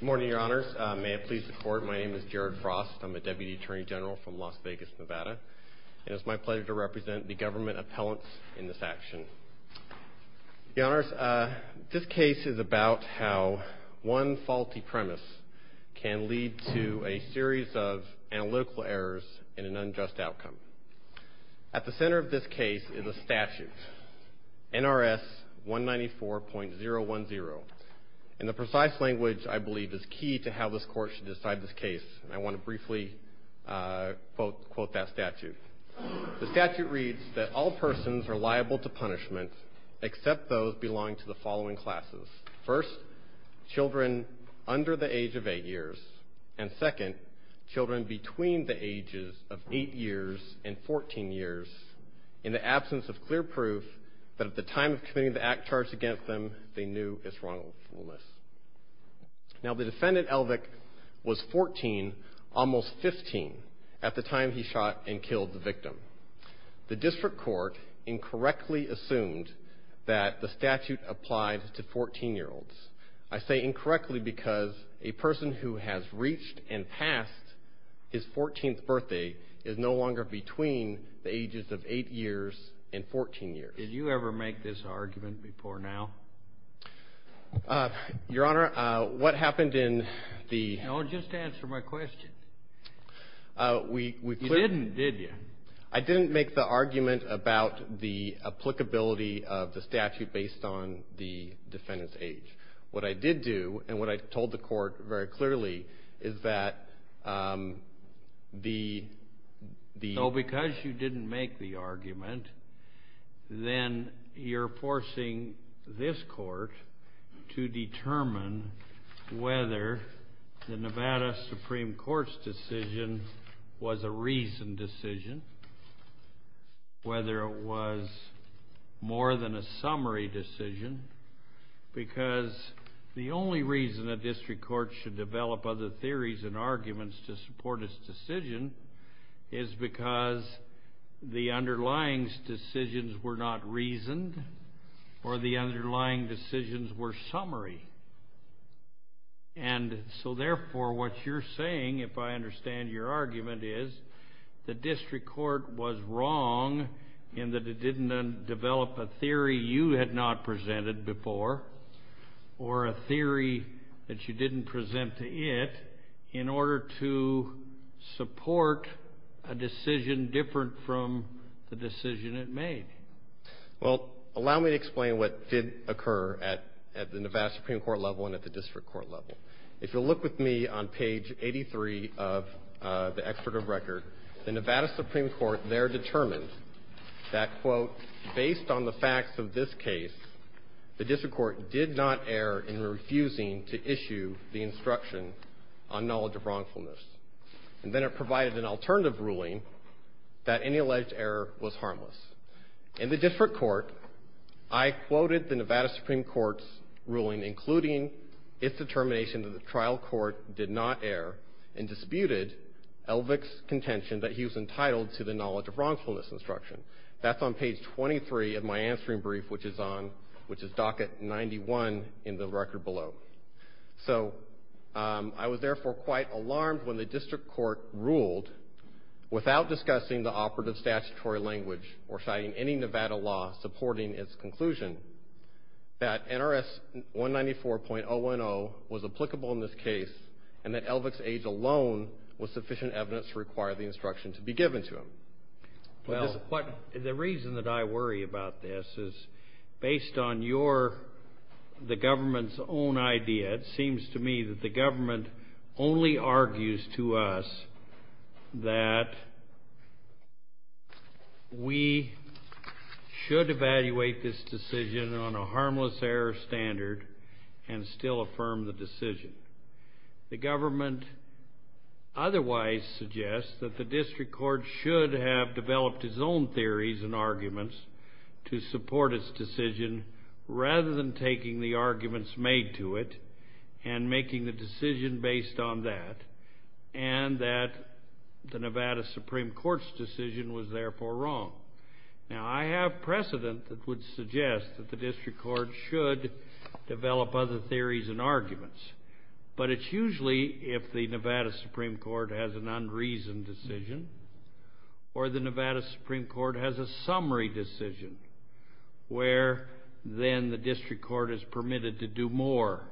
Good morning, Your Honors. May it please the Court, my name is Jared Frost. I'm a Deputy Attorney General from Las Vegas, Nevada, and it's my pleasure to represent the government of Las Vegas, Nevada, and it's my pleasure to represent the government of Nevada, Nevada, and it's my pleasure to represent the government of Nevada, Nevada, and it's my pleasure to Defendant Elvik was 14, almost 15 at the time he shot and killed the victim. The District Court incorrectly assumed that the statute applied to 14-year-olds. I say incorrectly because a person who has reached and passed his 14th birthday is no longer between the ages of 8 years and 14 years. Did you ever make this argument before now? Your Honor, what happened in the... No, just answer my question. We... You didn't, did you? I didn't make the argument about the applicability of the statute based on the defendant's age. What I did do, and what I told the court very clearly, is that the... So because you didn't make the argument, then you're forcing this court to determine whether the Nevada Supreme Court's decision was a reasoned decision, whether it was more than a summary decision, because the only reason a district court should develop other theories and arguments to support its decision is because the underlying decisions were not reasoned, or the underlying decisions were summary. And so therefore, what you're saying, if I understand your argument, is the district court was wrong in that it didn't develop a theory you had not presented before, or a theory that you didn't present to it, in order to support a decision different from the decision it made. Well, allow me to explain what did occur at the Nevada Supreme Court level and at the district court level. If you'll look with me on page 83 of the expert of record, the Nevada Supreme Court there determined that, quote, based on the facts of this case, the district court did not err in refusing to issue the instruction on knowledge of wrongfulness. And then it provided an alternative ruling that any alleged error was harmless. In the district court, I quoted the Nevada Supreme Court's ruling, including its determination that the trial court did not err and disputed Elvick's contention that he was entitled to the knowledge of wrongfulness instruction. That's on page 23 of my answering brief, which is on, which is docket 91 in the record below. So I was therefore quite alarmed when the district court ruled, without discussing the operative statutory language or citing any Nevada law supporting its conclusion, that NRS 194.010 was applicable in this case and that Elvick's age alone was sufficient evidence to require the instruction to be given to him. Well, the reason that I worry about this is based on your, the government's own idea, it seems to me that the government only argues to us that we should evaluate this decision on a harmless error standard and still affirm the decision. The government otherwise suggests that the district court should have developed its own theories and arguments to support its decision rather than taking the arguments made to it and making the decision based on that and that the Nevada Supreme Court's decision was therefore wrong. Now I have precedent that would suggest that the district court should develop other theories and arguments, but it's usually if the Nevada Supreme Court has an unreasoned decision or the Nevada Supreme Court has a summary decision where then the district court is permitted to do more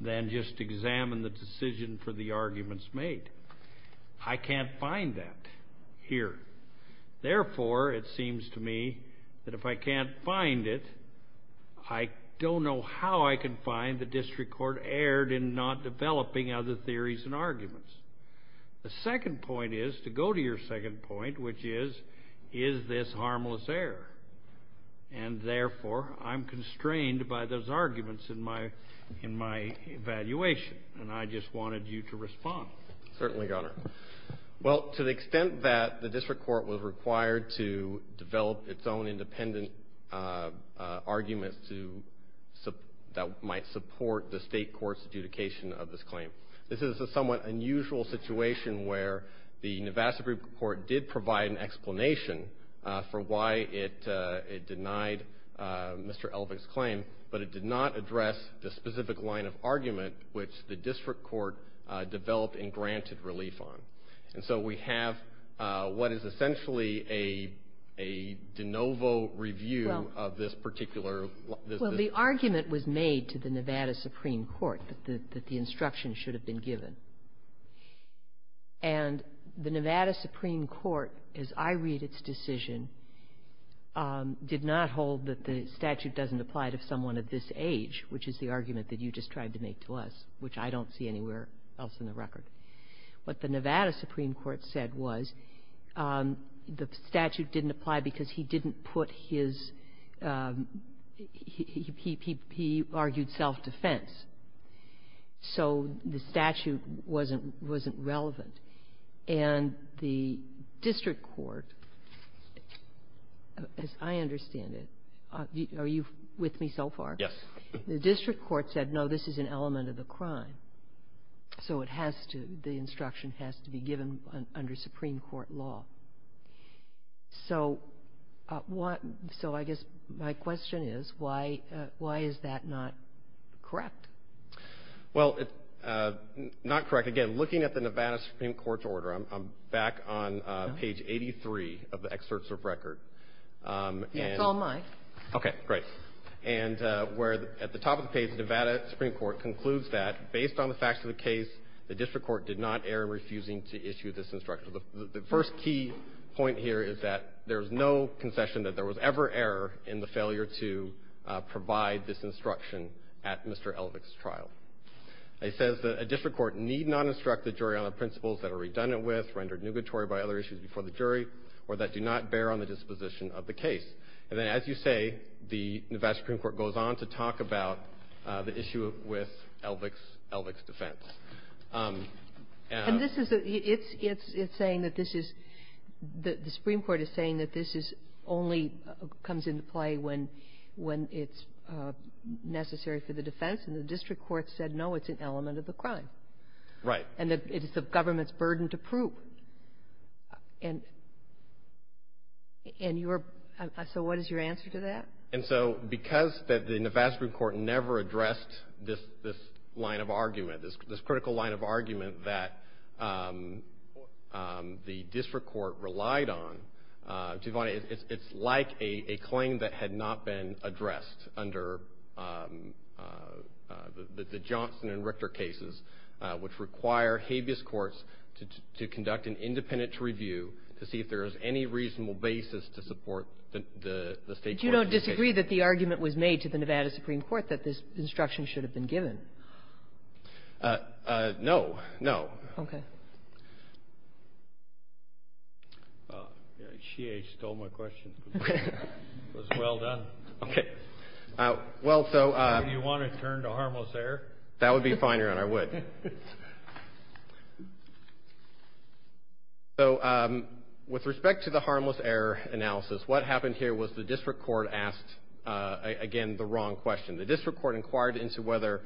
than just examine the decision for the arguments made. I can't find that here. Therefore, it seems to me that if I can't find it, I don't know how I can find the district court erred in not developing other theories and arguments. The second point is, to go to your second point, which is, is this harmless error? And therefore, I'm constrained by those arguments in my evaluation, and I just wanted you to respond. Certainly, Your Honor. Well, to the extent that the district court was required to develop its own independent arguments that might support the state court's adjudication of this claim, this is a somewhat unusual situation where the Nevada Supreme Court did provide an explanation for why it denied Mr. Elvick's claim, but it did not address the specific line of argument which the district court developed and granted relief on. And so we have what is essentially a de novo review of this particular. Well, the argument was made to the Nevada Supreme Court that the instruction should have been given. And the Nevada Supreme Court, as I read its decision, did not hold that the statute doesn't apply to someone of this age, which is the argument that you just tried to make to us, which I don't see anywhere else in the record. What the Nevada Supreme Court said was the statute didn't apply because he didn't put his — he argued self-defense. So the statute wasn't relevant. And the district court, as I understand it — are you with me so far? Yes. The district court said, no, this is an element of the crime, so it has to — the instruction has to be given under Supreme Court law. So what — so I guess my question is why is that not correct? Well, not correct. Again, looking at the Nevada Supreme Court's order, I'm back on page 83 of the excerpts of record. Yes. It's all mine. Okay. Great. And where at the top of the page, the Nevada Supreme Court concludes that, based on the facts of the case, the district court did not err in refusing to issue this instruction. The first key point here is that there is no concession that there was ever error in the failure to provide this instruction at Mr. Elvick's trial. It says that a district court need not instruct the jury on the principles that are redundant with, rendered nugatory by other issues before the jury, or that do not bear on the disposition of the case. And then, as you say, the Nevada Supreme Court goes on to talk about the issue with Elvick's defense. And this is a — it's saying that this is — the Supreme Court is saying that this is — only comes into play when it's necessary for the defense. And the district court said, no, it's an element of the crime. Right. And that it is the government's burden to prove. And your — so what is your answer to that? And so, because the Nevada Supreme Court never addressed this line of argument, this critical line of argument that the district court relied on, it's like a claim that had not been addressed under the Johnson and Richter cases, which require habeas courts to conduct an independent review to see if there is any reasonable basis to support the state court's case. But you don't disagree that the argument was made to the Nevada Supreme Court that this instruction should have been given? No. No. Okay. All right. She stole my question. It was well done. Okay. Well, so — Do you want to turn to harmless error? That would be fine, Your Honor. I would. So with respect to the harmless error analysis, what happened here was the district court asked, again, the wrong question. The district court inquired into whether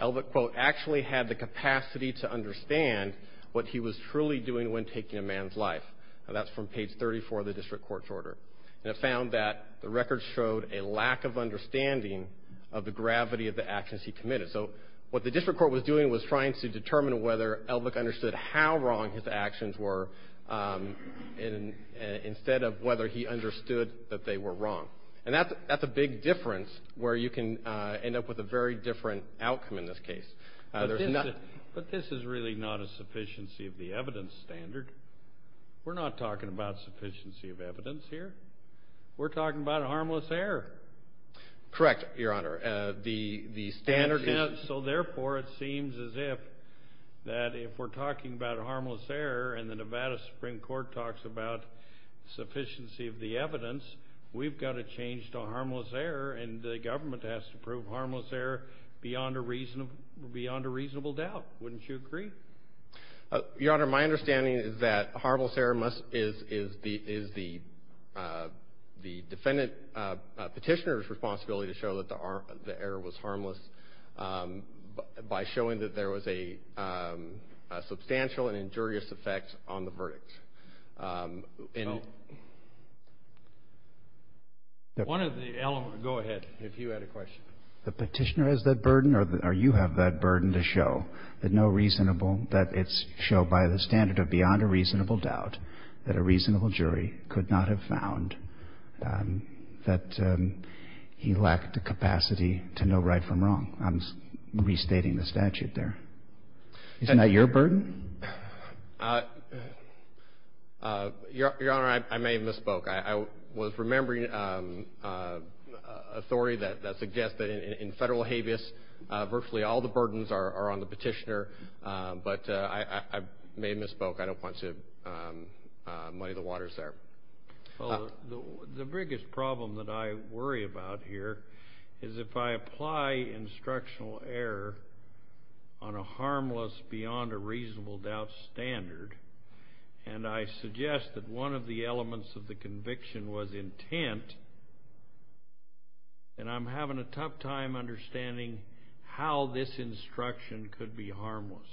Elvick, quote, actually had the capacity to understand what he was truly doing when taking a man's life. Now, that's from page 34 of the district court's order. And it found that the record showed a lack of understanding of the gravity of the actions he committed. So what the district court was doing was trying to determine whether Elvick understood how wrong his actions were, instead of whether he understood that they were wrong. And that's a big difference where you can end up with a very different outcome in this case. But this is really not a sufficiency of the evidence standard. We're not talking about sufficiency of evidence here. We're talking about harmless error. Correct, Your Honor. The standard is — So, therefore, it seems as if that if we're talking about harmless error and the Nevada Supreme Court talks about sufficiency of the evidence, we've got to change to harmless error and the government has to prove harmless error beyond a reasonable doubt. Wouldn't you agree? Your Honor, my understanding is that harmless error is the defendant petitioner's responsibility to show that the error was harmless by showing that there was a substantial and injurious effect on the verdict. One of the — go ahead, if you had a question. The petitioner has that burden or you have that burden to show that no reasonable — that it's shown by the standard of beyond a reasonable doubt that a reasonable jury could not have found that he lacked the capacity to know right from wrong. I'm restating the statute there. Isn't that your burden? Your Honor, I may have misspoke. I was remembering a story that suggests that in federal habeas, virtually all the burdens are on the petitioner. But I may have misspoke. I don't want to muddy the waters there. Well, the biggest problem that I worry about here is if I apply instructional error on a harmless beyond a reasonable doubt standard and I suggest that one of the elements of the conviction was intent, then I'm having a tough time understanding how this instruction could be harmless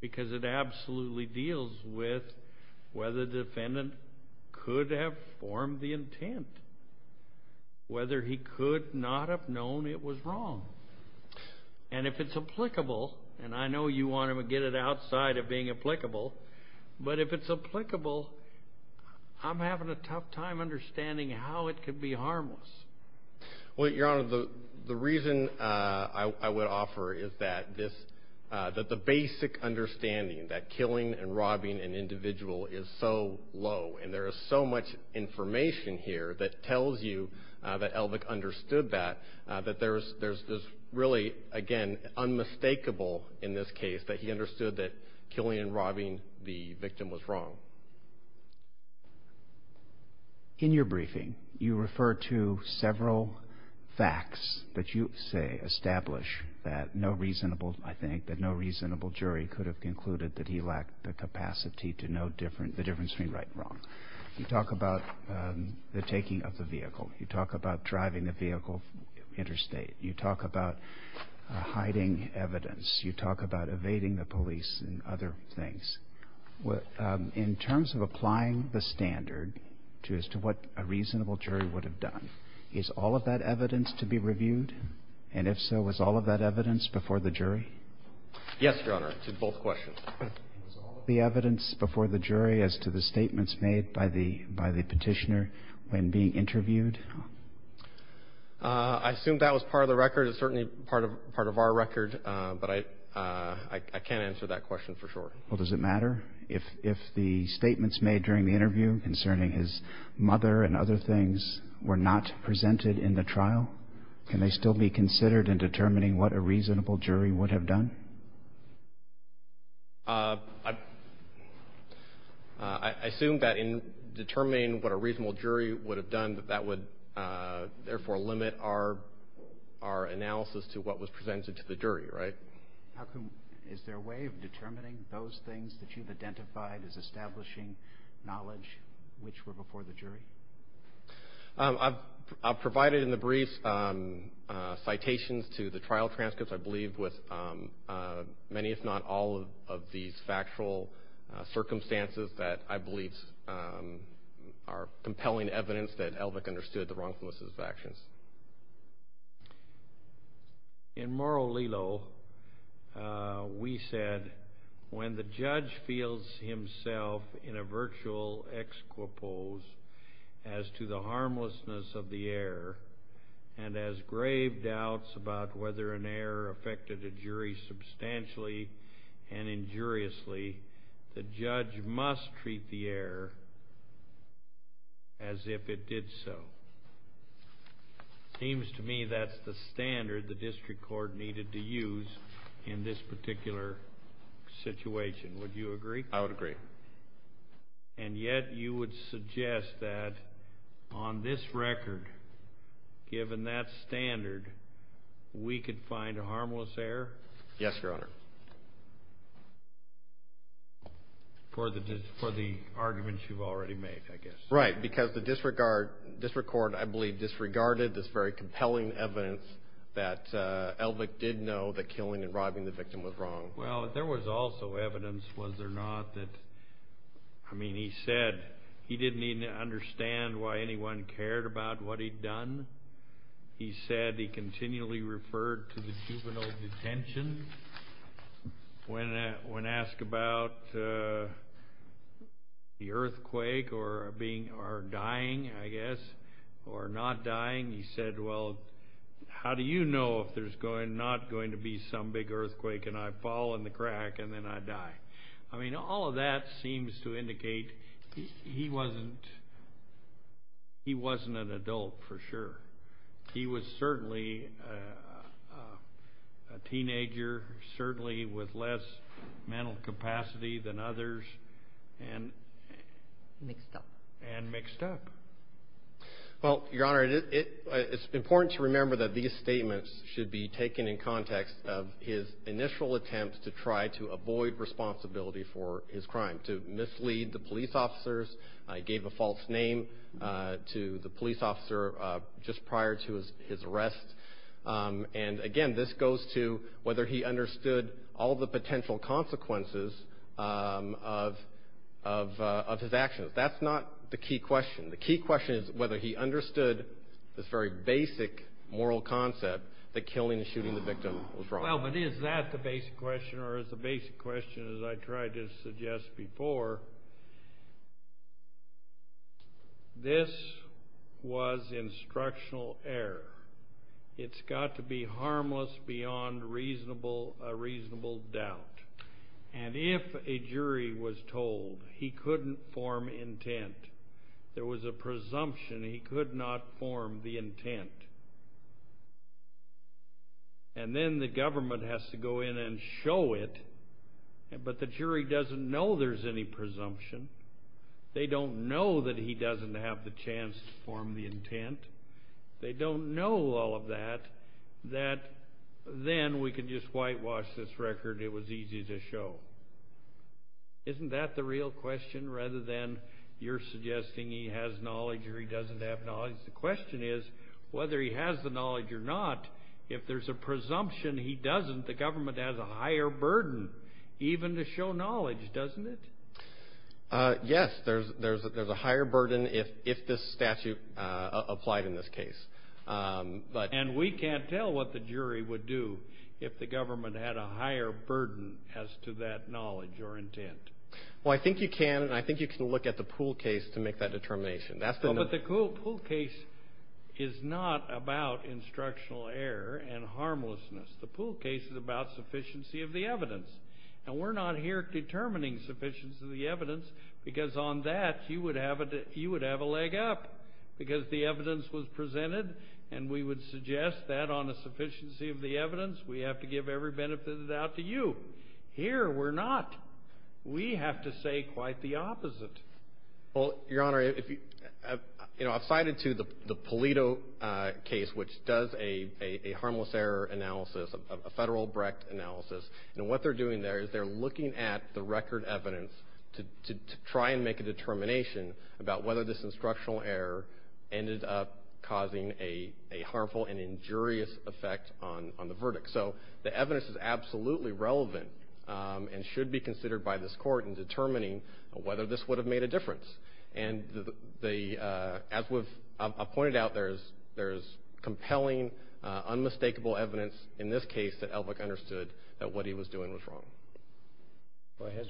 because it absolutely deals with whether the defendant could have formed the intent, whether he could not have known it was wrong. And if it's applicable, and I know you want to get it outside of being applicable, but if it's applicable, I'm having a tough time understanding how it could be harmless. Well, Your Honor, the reason I would offer is that the basic understanding that killing and robbing an individual is so low and there is so much information here that tells you that Elvick understood that, that there's really, again, unmistakable in this case that he understood that killing and robbing the victim was wrong. So in your briefing, you refer to several facts that you say establish that no reasonable, I think, that no reasonable jury could have concluded that he lacked the capacity to know the difference between right and wrong. You talk about the taking of the vehicle. You talk about driving the vehicle interstate. You talk about hiding evidence. You talk about evading the police and other things. In terms of applying the standard as to what a reasonable jury would have done, is all of that evidence to be reviewed? And if so, was all of that evidence before the jury? Yes, Your Honor, to both questions. Was all of the evidence before the jury as to the statements made by the Petitioner when being interviewed? I assume that was part of the record. It's certainly part of our record, but I can't answer that question for sure. Well, does it matter if the statements made during the interview concerning his mother and other things were not presented in the trial? Can they still be considered in determining what a reasonable jury would have done? I assume that in determining what a reasonable jury would have done, that that would therefore limit our analysis to what was presented to the jury, right? Is there a way of determining those things that you've identified as establishing knowledge, which were before the jury? I've provided in the brief citations to the trial transcripts, I believe, with many if not all of these factual circumstances that I believe are compelling evidence that Elvick understood the wrongfulness of his actions. In Moro Lilo, we said, when the judge feels himself in a virtual exquipose as to the harmlessness of the error and has grave doubts about whether an error affected a jury substantially and injuriously, the judge must treat the error as if it did so. It seems to me that's the standard the district court needed to use in this particular situation. Would you agree? I would agree. And yet you would suggest that on this record, given that standard, we could find a harmless error? Yes, Your Honor. For the arguments you've already made, I guess. Right, because the district court, I believe, disregarded this very compelling evidence that Elvick did know that killing and robbing the victim was wrong. Well, there was also evidence, was there not, that, I mean, he said he didn't even understand why anyone cared about what he'd done. He said he continually referred to the juvenile detention. When asked about the earthquake or dying, I guess, or not dying, he said, well, how do you know if there's not going to be some big earthquake and I fall in the crack and then I die? I mean, all of that seems to indicate he wasn't an adult for sure. He was certainly a teenager, certainly with less mental capacity than others, and mixed up. Well, Your Honor, it's important to remember that these statements should be taken in context of his initial attempt to try to avoid responsibility for his crime, to mislead the police officers, gave a false name to the police officer just prior to his arrest. And, again, this goes to whether he understood all the potential consequences of his actions. That's not the key question. The key question is whether he understood this very basic moral concept that killing and shooting the victim was wrong. Well, but is that the basic question or is the basic question, as I tried to suggest before, this was instructional error. It's got to be harmless beyond a reasonable doubt. And if a jury was told he couldn't form intent, there was a presumption he could not form the intent, and then the government has to go in and show it, but the jury doesn't know there's any presumption. They don't know that he doesn't have the chance to form the intent. They don't know all of that, that then we can just whitewash this record, it was easy to show. Isn't that the real question rather than you're suggesting he has knowledge or he doesn't have knowledge? The question is whether he has the knowledge or not, if there's a presumption he doesn't, the government has a higher burden even to show knowledge, doesn't it? Yes, there's a higher burden if this statute applied in this case. And we can't tell what the jury would do if the government had a higher burden as to that knowledge or intent. Well, I think you can, and I think you can look at the Poole case to make that determination. But the Poole case is not about instructional error and harmlessness. The Poole case is about sufficiency of the evidence, and we're not here determining sufficiency of the evidence because on that you would have a leg up because the evidence was presented, and we would suggest that on the sufficiency of the evidence we have to give every benefit of the doubt to you. Here we're not. We have to say quite the opposite. Well, Your Honor, you know, I've cited to the Pulido case, which does a harmless error analysis, a federal Brecht analysis, and what they're doing there is they're looking at the record evidence to try and make a determination about whether this instructional error ended up causing a harmful and injurious effect on the verdict. So the evidence is absolutely relevant and should be considered by this court in determining whether this would have made a difference. And as I've pointed out, there is compelling, unmistakable evidence in this case that Elvick understood that what he was doing was wrong. Go ahead.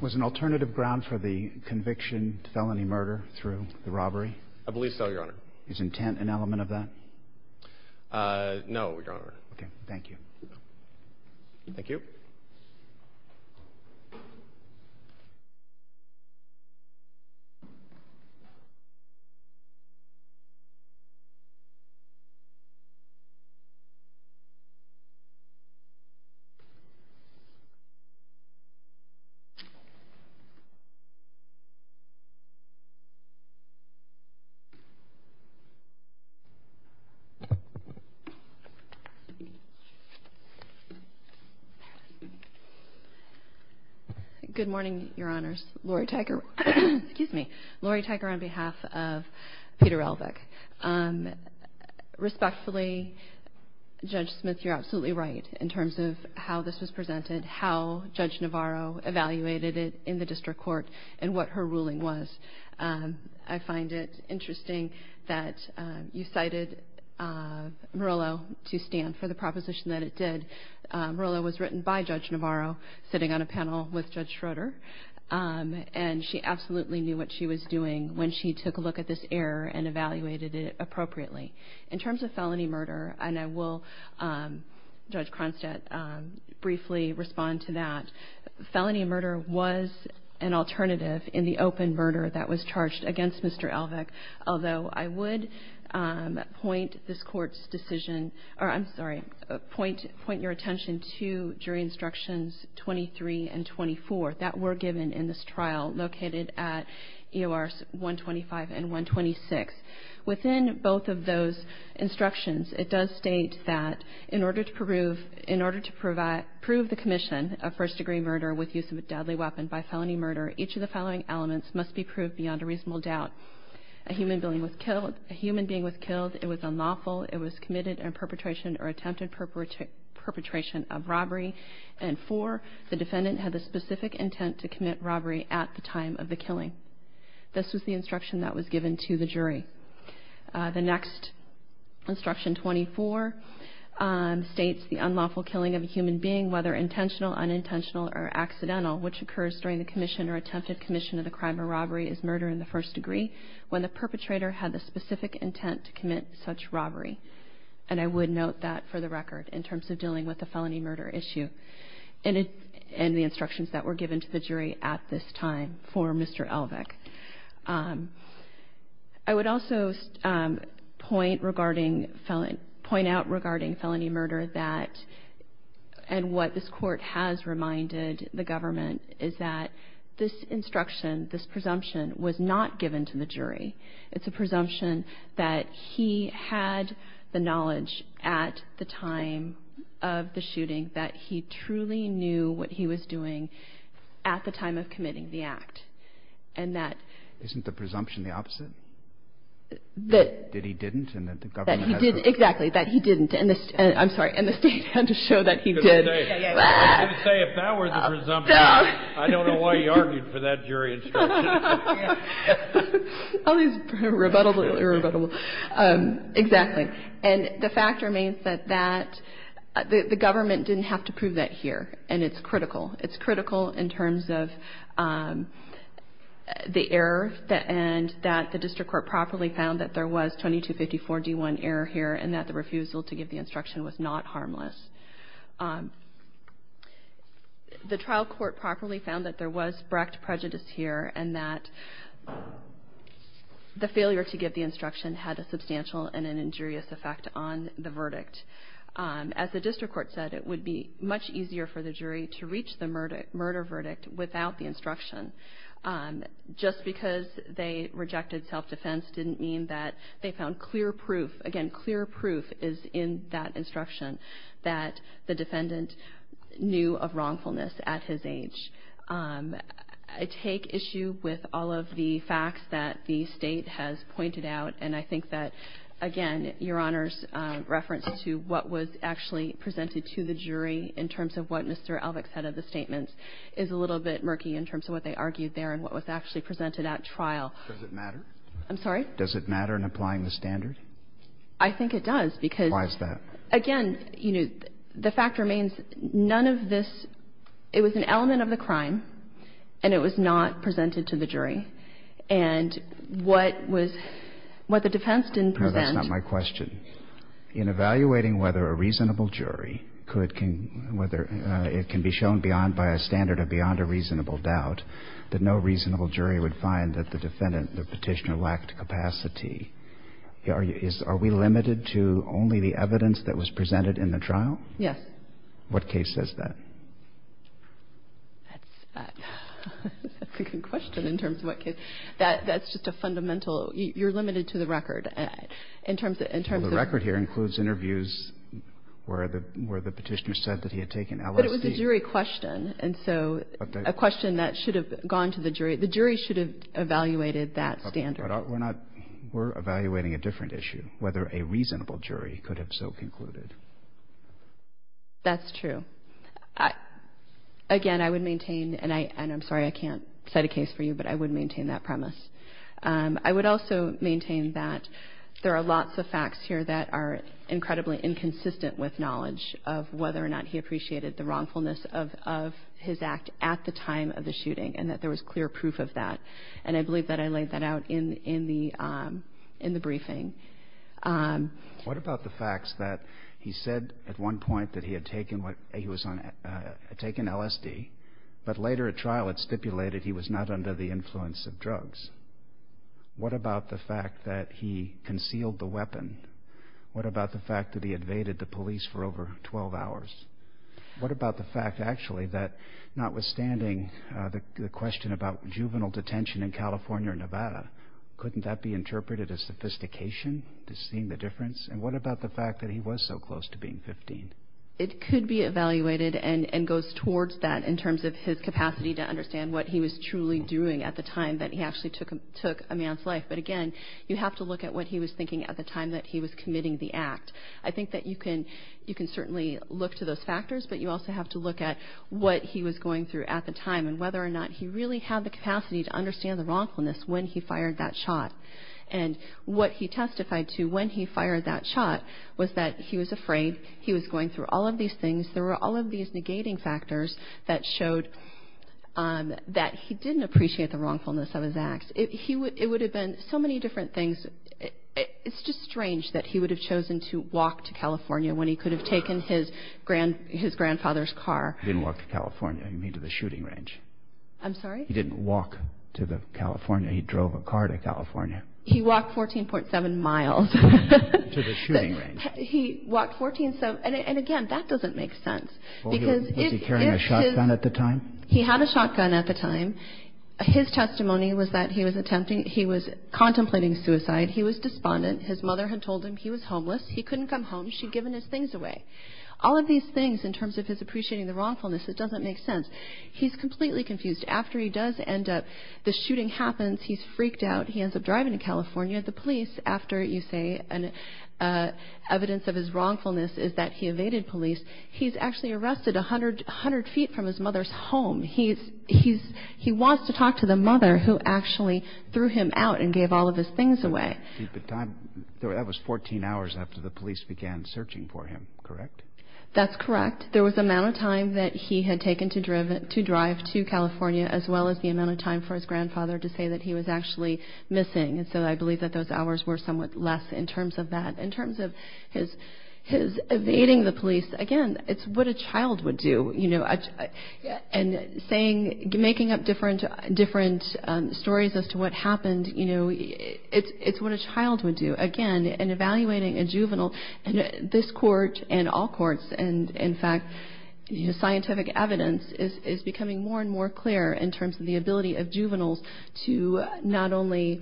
Was an alternative ground for the conviction felony murder through the robbery? I believe so, Your Honor. Is intent an element of that? No, Your Honor. Okay. Thank you. Thank you. Good morning, Your Honors. Lori Tyker. Excuse me. Lori Tyker on behalf of Peter Elvick. Respectfully, Judge Smith, you're absolutely right in terms of how this was presented, how Judge Navarro evaluated it in the district court, and what her ruling was. I find it interesting that you cited Murillo to stand for the proposition that it did. Murillo was written by Judge Navarro sitting on a panel with Judge Schroeder, and she absolutely knew what she was doing when she took a look at this error and evaluated it appropriately. In terms of felony murder, and I will, Judge Cronstadt, briefly respond to that, felony murder was an alternative in the open murder that was charged against Mr. Elvick, although I would point this Court's decision or, I'm sorry, point your attention to jury instructions 23 and 24 that were given in this trial located at EORs 125 and 126. Within both of those instructions, it does state that in order to prove the commission of first-degree murder with use of a deadly weapon by felony murder, each of the following elements must be proved beyond a reasonable doubt. A human being was killed. It was unlawful. It was committed in perpetration or attempted perpetration of robbery. And four, the defendant had the specific intent to commit robbery at the time of the killing. This was the instruction that was given to the jury. The next instruction, 24, states the unlawful killing of a human being, whether intentional, unintentional, or accidental, which occurs during the commission or attempted commission of the crime of robbery is murder in the first degree, when the perpetrator had the specific intent to commit such robbery. And I would note that for the record in terms of dealing with the felony murder issue and the instructions that were given to the jury at this time for Mr. Elvick. I would also point out regarding felony murder that, and what this court has reminded the government, is that this instruction, this presumption was not given to the jury. It's a presumption that he had the knowledge at the time of the shooting that he truly knew what he was doing at the time of committing the act and that. Isn't the presumption the opposite? That. That he didn't and that the government. That he didn't. Exactly, that he didn't. I'm sorry. And the state had to show that he did. I was going to say, if that were the presumption, I don't know why you argued for that jury instruction. All these rebuttals are irrebuttable. And the fact remains that the government didn't have to prove that here. And it's critical. It's critical in terms of the error and that the district court properly found that there was 2254-D1 error here and that the refusal to give the instruction was not harmless. The trial court properly found that there was direct prejudice here and that the failure to give the instruction had a substantial and injurious effect on the verdict. As the district court said, it would be much easier for the jury to reach the murder verdict without the instruction. Just because they rejected self-defense didn't mean that they found clear proof. Again, clear proof is in that instruction that the defendant knew of wrongfulness at his age. I take issue with all of the facts that the state has pointed out, and I think that, again, Your Honor's reference to what was actually presented to the jury in terms of what Mr. Elvick said of the statements is a little bit murky in terms of what they argued there and what was actually presented at trial. Does it matter? I'm sorry? Does it matter in applying the standard? I think it does, because why is that? Again, you know, the fact remains, none of this – it was an element of the crime and it was not presented to the jury. And what was – what the defense didn't present – No, that's not my question. In evaluating whether a reasonable jury could – whether it can be shown beyond – by a standard of beyond a reasonable doubt, that no reasonable jury would find that the defendant, the Petitioner, lacked capacity, are we limited to only the evidence that was presented in the trial? Yes. What case says that? That's a good question in terms of what case. That's just a fundamental – you're limited to the record. In terms of – Well, the record here includes interviews where the Petitioner said that he had taken LSD. But it was a jury question. And so a question that should have gone to the jury – the jury should have evaluated that standard. But we're not – we're evaluating a different issue, whether a reasonable jury could have so concluded. That's true. Again, I would maintain – and I'm sorry I can't cite a case for you, but I would maintain that premise. I would also maintain that there are lots of facts here that are incredibly inconsistent with knowledge of whether or not he appreciated the wrongfulness of his act at the time of the shooting and that there was clear proof of that. And I believe that I laid that out in the briefing. What about the facts that he said at one point that he had taken LSD, but later at trial had stipulated he was not under the influence of drugs? What about the fact that he concealed the weapon? What about the fact that he invaded the police for over 12 hours? What about the fact, actually, that notwithstanding the question about juvenile detention in California or Nevada, couldn't that be interpreted as sophistication to see the difference? And what about the fact that he was so close to being 15? It could be evaluated and goes towards that in terms of his capacity to understand what he was truly doing at the time that he actually took a man's life. But, again, you have to look at what he was thinking at the time that he was committing the act. I think that you can certainly look to those factors, but you also have to look at what he was going through at the time and whether or not he really had the capacity to understand the wrongfulness when he fired that shot. And what he testified to when he fired that shot was that he was afraid. He was going through all of these things. There were all of these negating factors that showed that he didn't appreciate the wrongfulness of his acts. It would have been so many different things. It's just strange that he would have chosen to walk to California when he could have taken his grandfather's car. He didn't walk to California. You mean to the shooting range. I'm sorry? He didn't walk to California. He drove a car to California. He walked 14.7 miles. To the shooting range. He walked 14.7. And, again, that doesn't make sense. Was he carrying a shotgun at the time? He had a shotgun at the time. His testimony was that he was contemplating suicide. He was despondent. His mother had told him he was homeless. He couldn't come home. She had given his things away. All of these things in terms of his appreciating the wrongfulness, it doesn't make sense. He's completely confused. After he does end up, the shooting happens, he's freaked out, he ends up driving to California. The police, after you say evidence of his wrongfulness is that he evaded police, he's actually arrested 100 feet from his mother's home. He wants to talk to the mother who actually threw him out and gave all of his things away. That was 14 hours after the police began searching for him, correct? That's correct. There was the amount of time that he had taken to drive to California as well as the amount of time for his grandfather to say that he was actually missing. So I believe that those hours were somewhat less in terms of that. In terms of his evading the police, again, it's what a child would do. Making up different stories as to what happened, it's what a child would do. Again, in evaluating a juvenile, this court and all courts, in fact, scientific evidence is becoming more and more clear in terms of the ability of juveniles to not only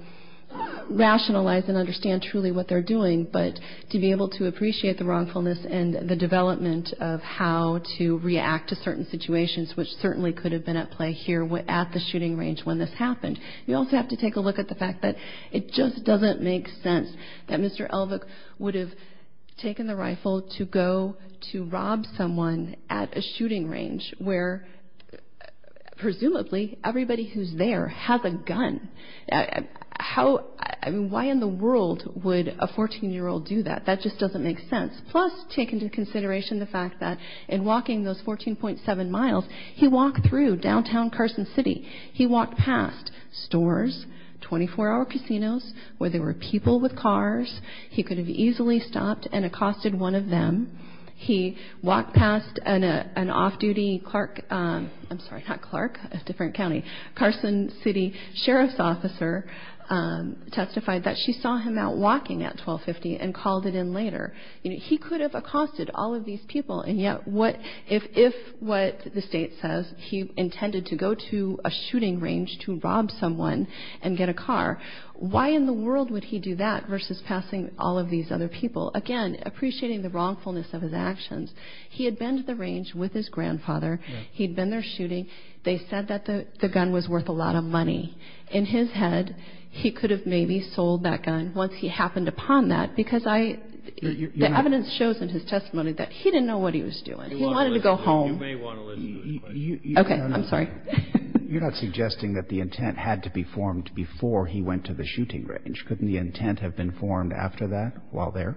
rationalize and understand truly what they're doing, but to be able to appreciate the wrongfulness and the development of how to react to certain situations which certainly could have been at play here at the shooting range when this happened. We also have to take a look at the fact that it just doesn't make sense that Mr. Elvick would have taken the rifle to go to rob someone at a shooting range Why in the world would a 14-year-old do that? That just doesn't make sense. Plus, take into consideration the fact that in walking those 14.7 miles, he walked through downtown Carson City. He walked past stores, 24-hour casinos where there were people with cars. He could have easily stopped and accosted one of them. He walked past an off-duty Clark – I'm sorry, not Clark, a different county – Carson City sheriff's officer, testified that she saw him out walking at 1250 and called it in later. He could have accosted all of these people, and yet if what the State says, he intended to go to a shooting range to rob someone and get a car, why in the world would he do that versus passing all of these other people? Again, appreciating the wrongfulness of his actions, he had been to the range with his grandfather. He'd been there shooting. They said that the gun was worth a lot of money. In his head, he could have maybe sold that gun once he happened upon that, because the evidence shows in his testimony that he didn't know what he was doing. He wanted to go home. You may want to listen to his question. Okay, I'm sorry. You're not suggesting that the intent had to be formed before he went to the shooting range. Couldn't the intent have been formed after that, while there?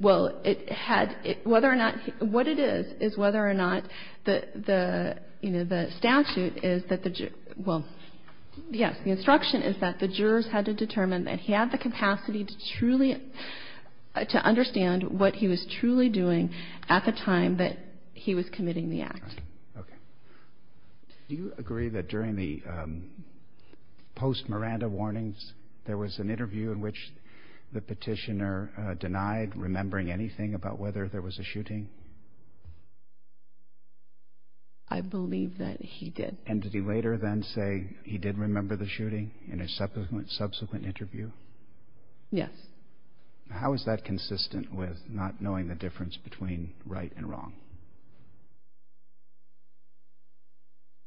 Well, it had – whether or not – what it is is whether or not the statute is that the – well, yes. The instruction is that the jurors had to determine that he had the capacity to truly – to understand what he was truly doing at the time that he was committing the act. Okay. Do you agree that during the post-Miranda warnings, there was an interview in which the petitioner denied remembering anything about whether there was a shooting? I believe that he did. And did he later then say he did remember the shooting in a subsequent interview? Yes. How is that consistent with not knowing the difference between right and wrong?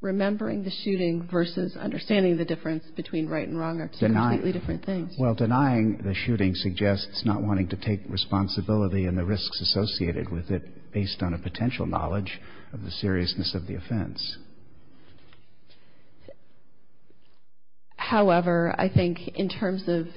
Remembering the shooting versus understanding the difference between right and wrong are two completely different things. Well, denying the shooting suggests not wanting to take responsibility and the risks associated with it based on a potential knowledge of the seriousness of the offense. However, I think in terms of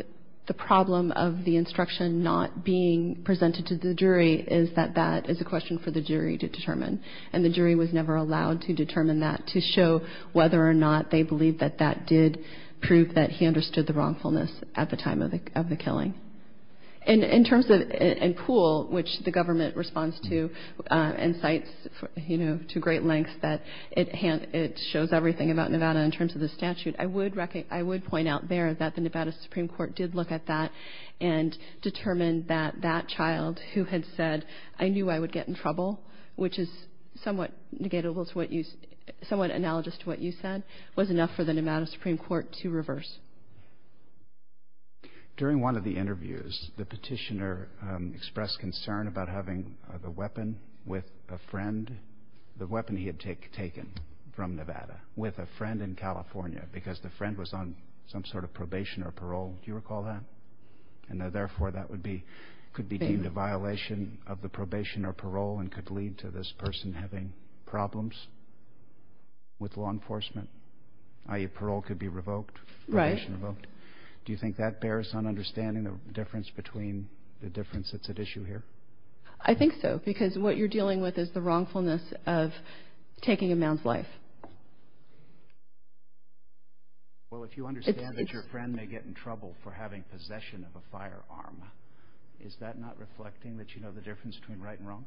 the problem of the instruction not being presented to the jury is that that is a question for the jury to determine. And the jury was never allowed to determine that to show whether or not they believed that that did prove that he understood the wrongfulness at the time of the killing. In terms of – and Poole, which the government responds to and cites, you know, to great length, that it shows everything about Nevada in terms of the statute. I would point out there that the Nevada Supreme Court did look at that and determine that that child who had said, I knew I would get in trouble, which is somewhat analogous to what you said, was enough for the Nevada Supreme Court to reverse. During one of the interviews, the petitioner expressed concern about having the weapon with a friend, the weapon he had taken from Nevada, with a friend in California because the friend was on some sort of probation or parole. Do you recall that? And therefore that could be deemed a violation of the probation or parole and could lead to this person having problems with law enforcement, i.e. parole could be revoked, probation revoked. Do you think that bears on understanding the difference that's at issue here? I think so because what you're dealing with is the wrongfulness of taking a man's life. Well, if you understand that your friend may get in trouble for having possession of a firearm, is that not reflecting that you know the difference between right and wrong?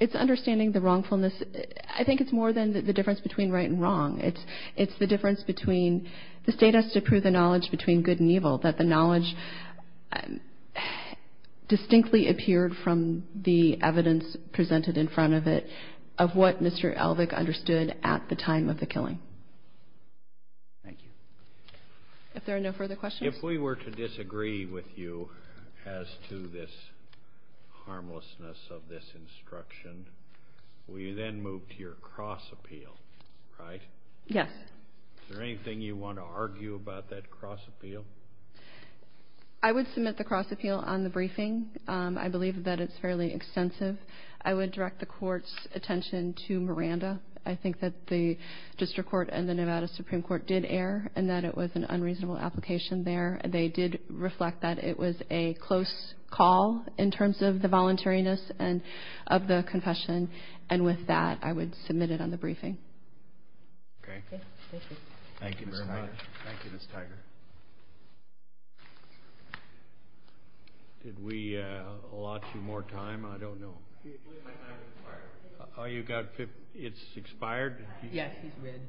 It's understanding the wrongfulness. I think it's more than the difference between right and wrong. It's the difference between the state has to prove the knowledge between good and evil, that the knowledge distinctly appeared from the evidence presented in front of it, of what Mr. Elvick understood at the time of the killing. Thank you. If there are no further questions. If we were to disagree with you as to this harmlessness of this instruction, will you then move to your cross appeal, right? Yes. Is there anything you want to argue about that cross appeal? I would submit the cross appeal on the briefing. I believe that it's fairly extensive. I would direct the Court's attention to Miranda. I think that the District Court and the Nevada Supreme Court did err and that it was an unreasonable application there. They did reflect that it was a close call in terms of the voluntariness of the confession, and with that I would submit it on the briefing. Okay. Thank you. Thank you very much. Thank you, Ms. Tiger. Did we allot you more time? I don't know. I believe my time has expired. Oh, you've got 50? It's expired? Yes, he's red.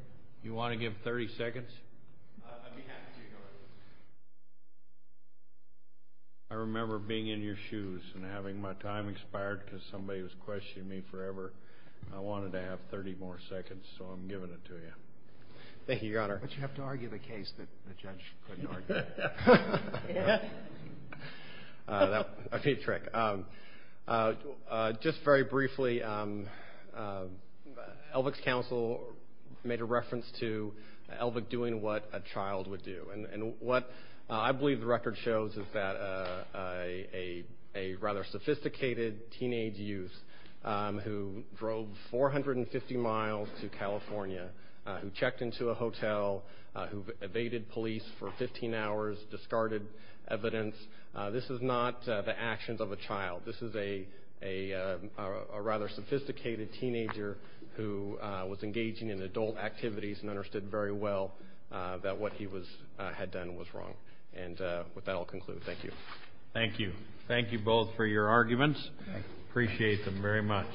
You want to give 30 seconds? I'd be happy to, Your Honor. I remember being in your shoes and having my time expired because somebody was questioning me forever. I wanted to have 30 more seconds, so I'm giving it to you. Thank you, Your Honor. But you have to argue the case that the judge couldn't argue. That would be a trick. Just very briefly, Elvick's counsel made a reference to Elvick doing what a child would do, and what I believe the record shows is that a rather sophisticated teenage youth who drove 450 miles to California, who checked into a hotel, who evaded police for 15 hours, discarded evidence, this is not the actions of a child. This is a rather sophisticated teenager who was engaging in adult activities and understood very well that what he had done was wrong. And with that, I'll conclude. Thank you. Thank you. Thank you both for your arguments. I appreciate them very much.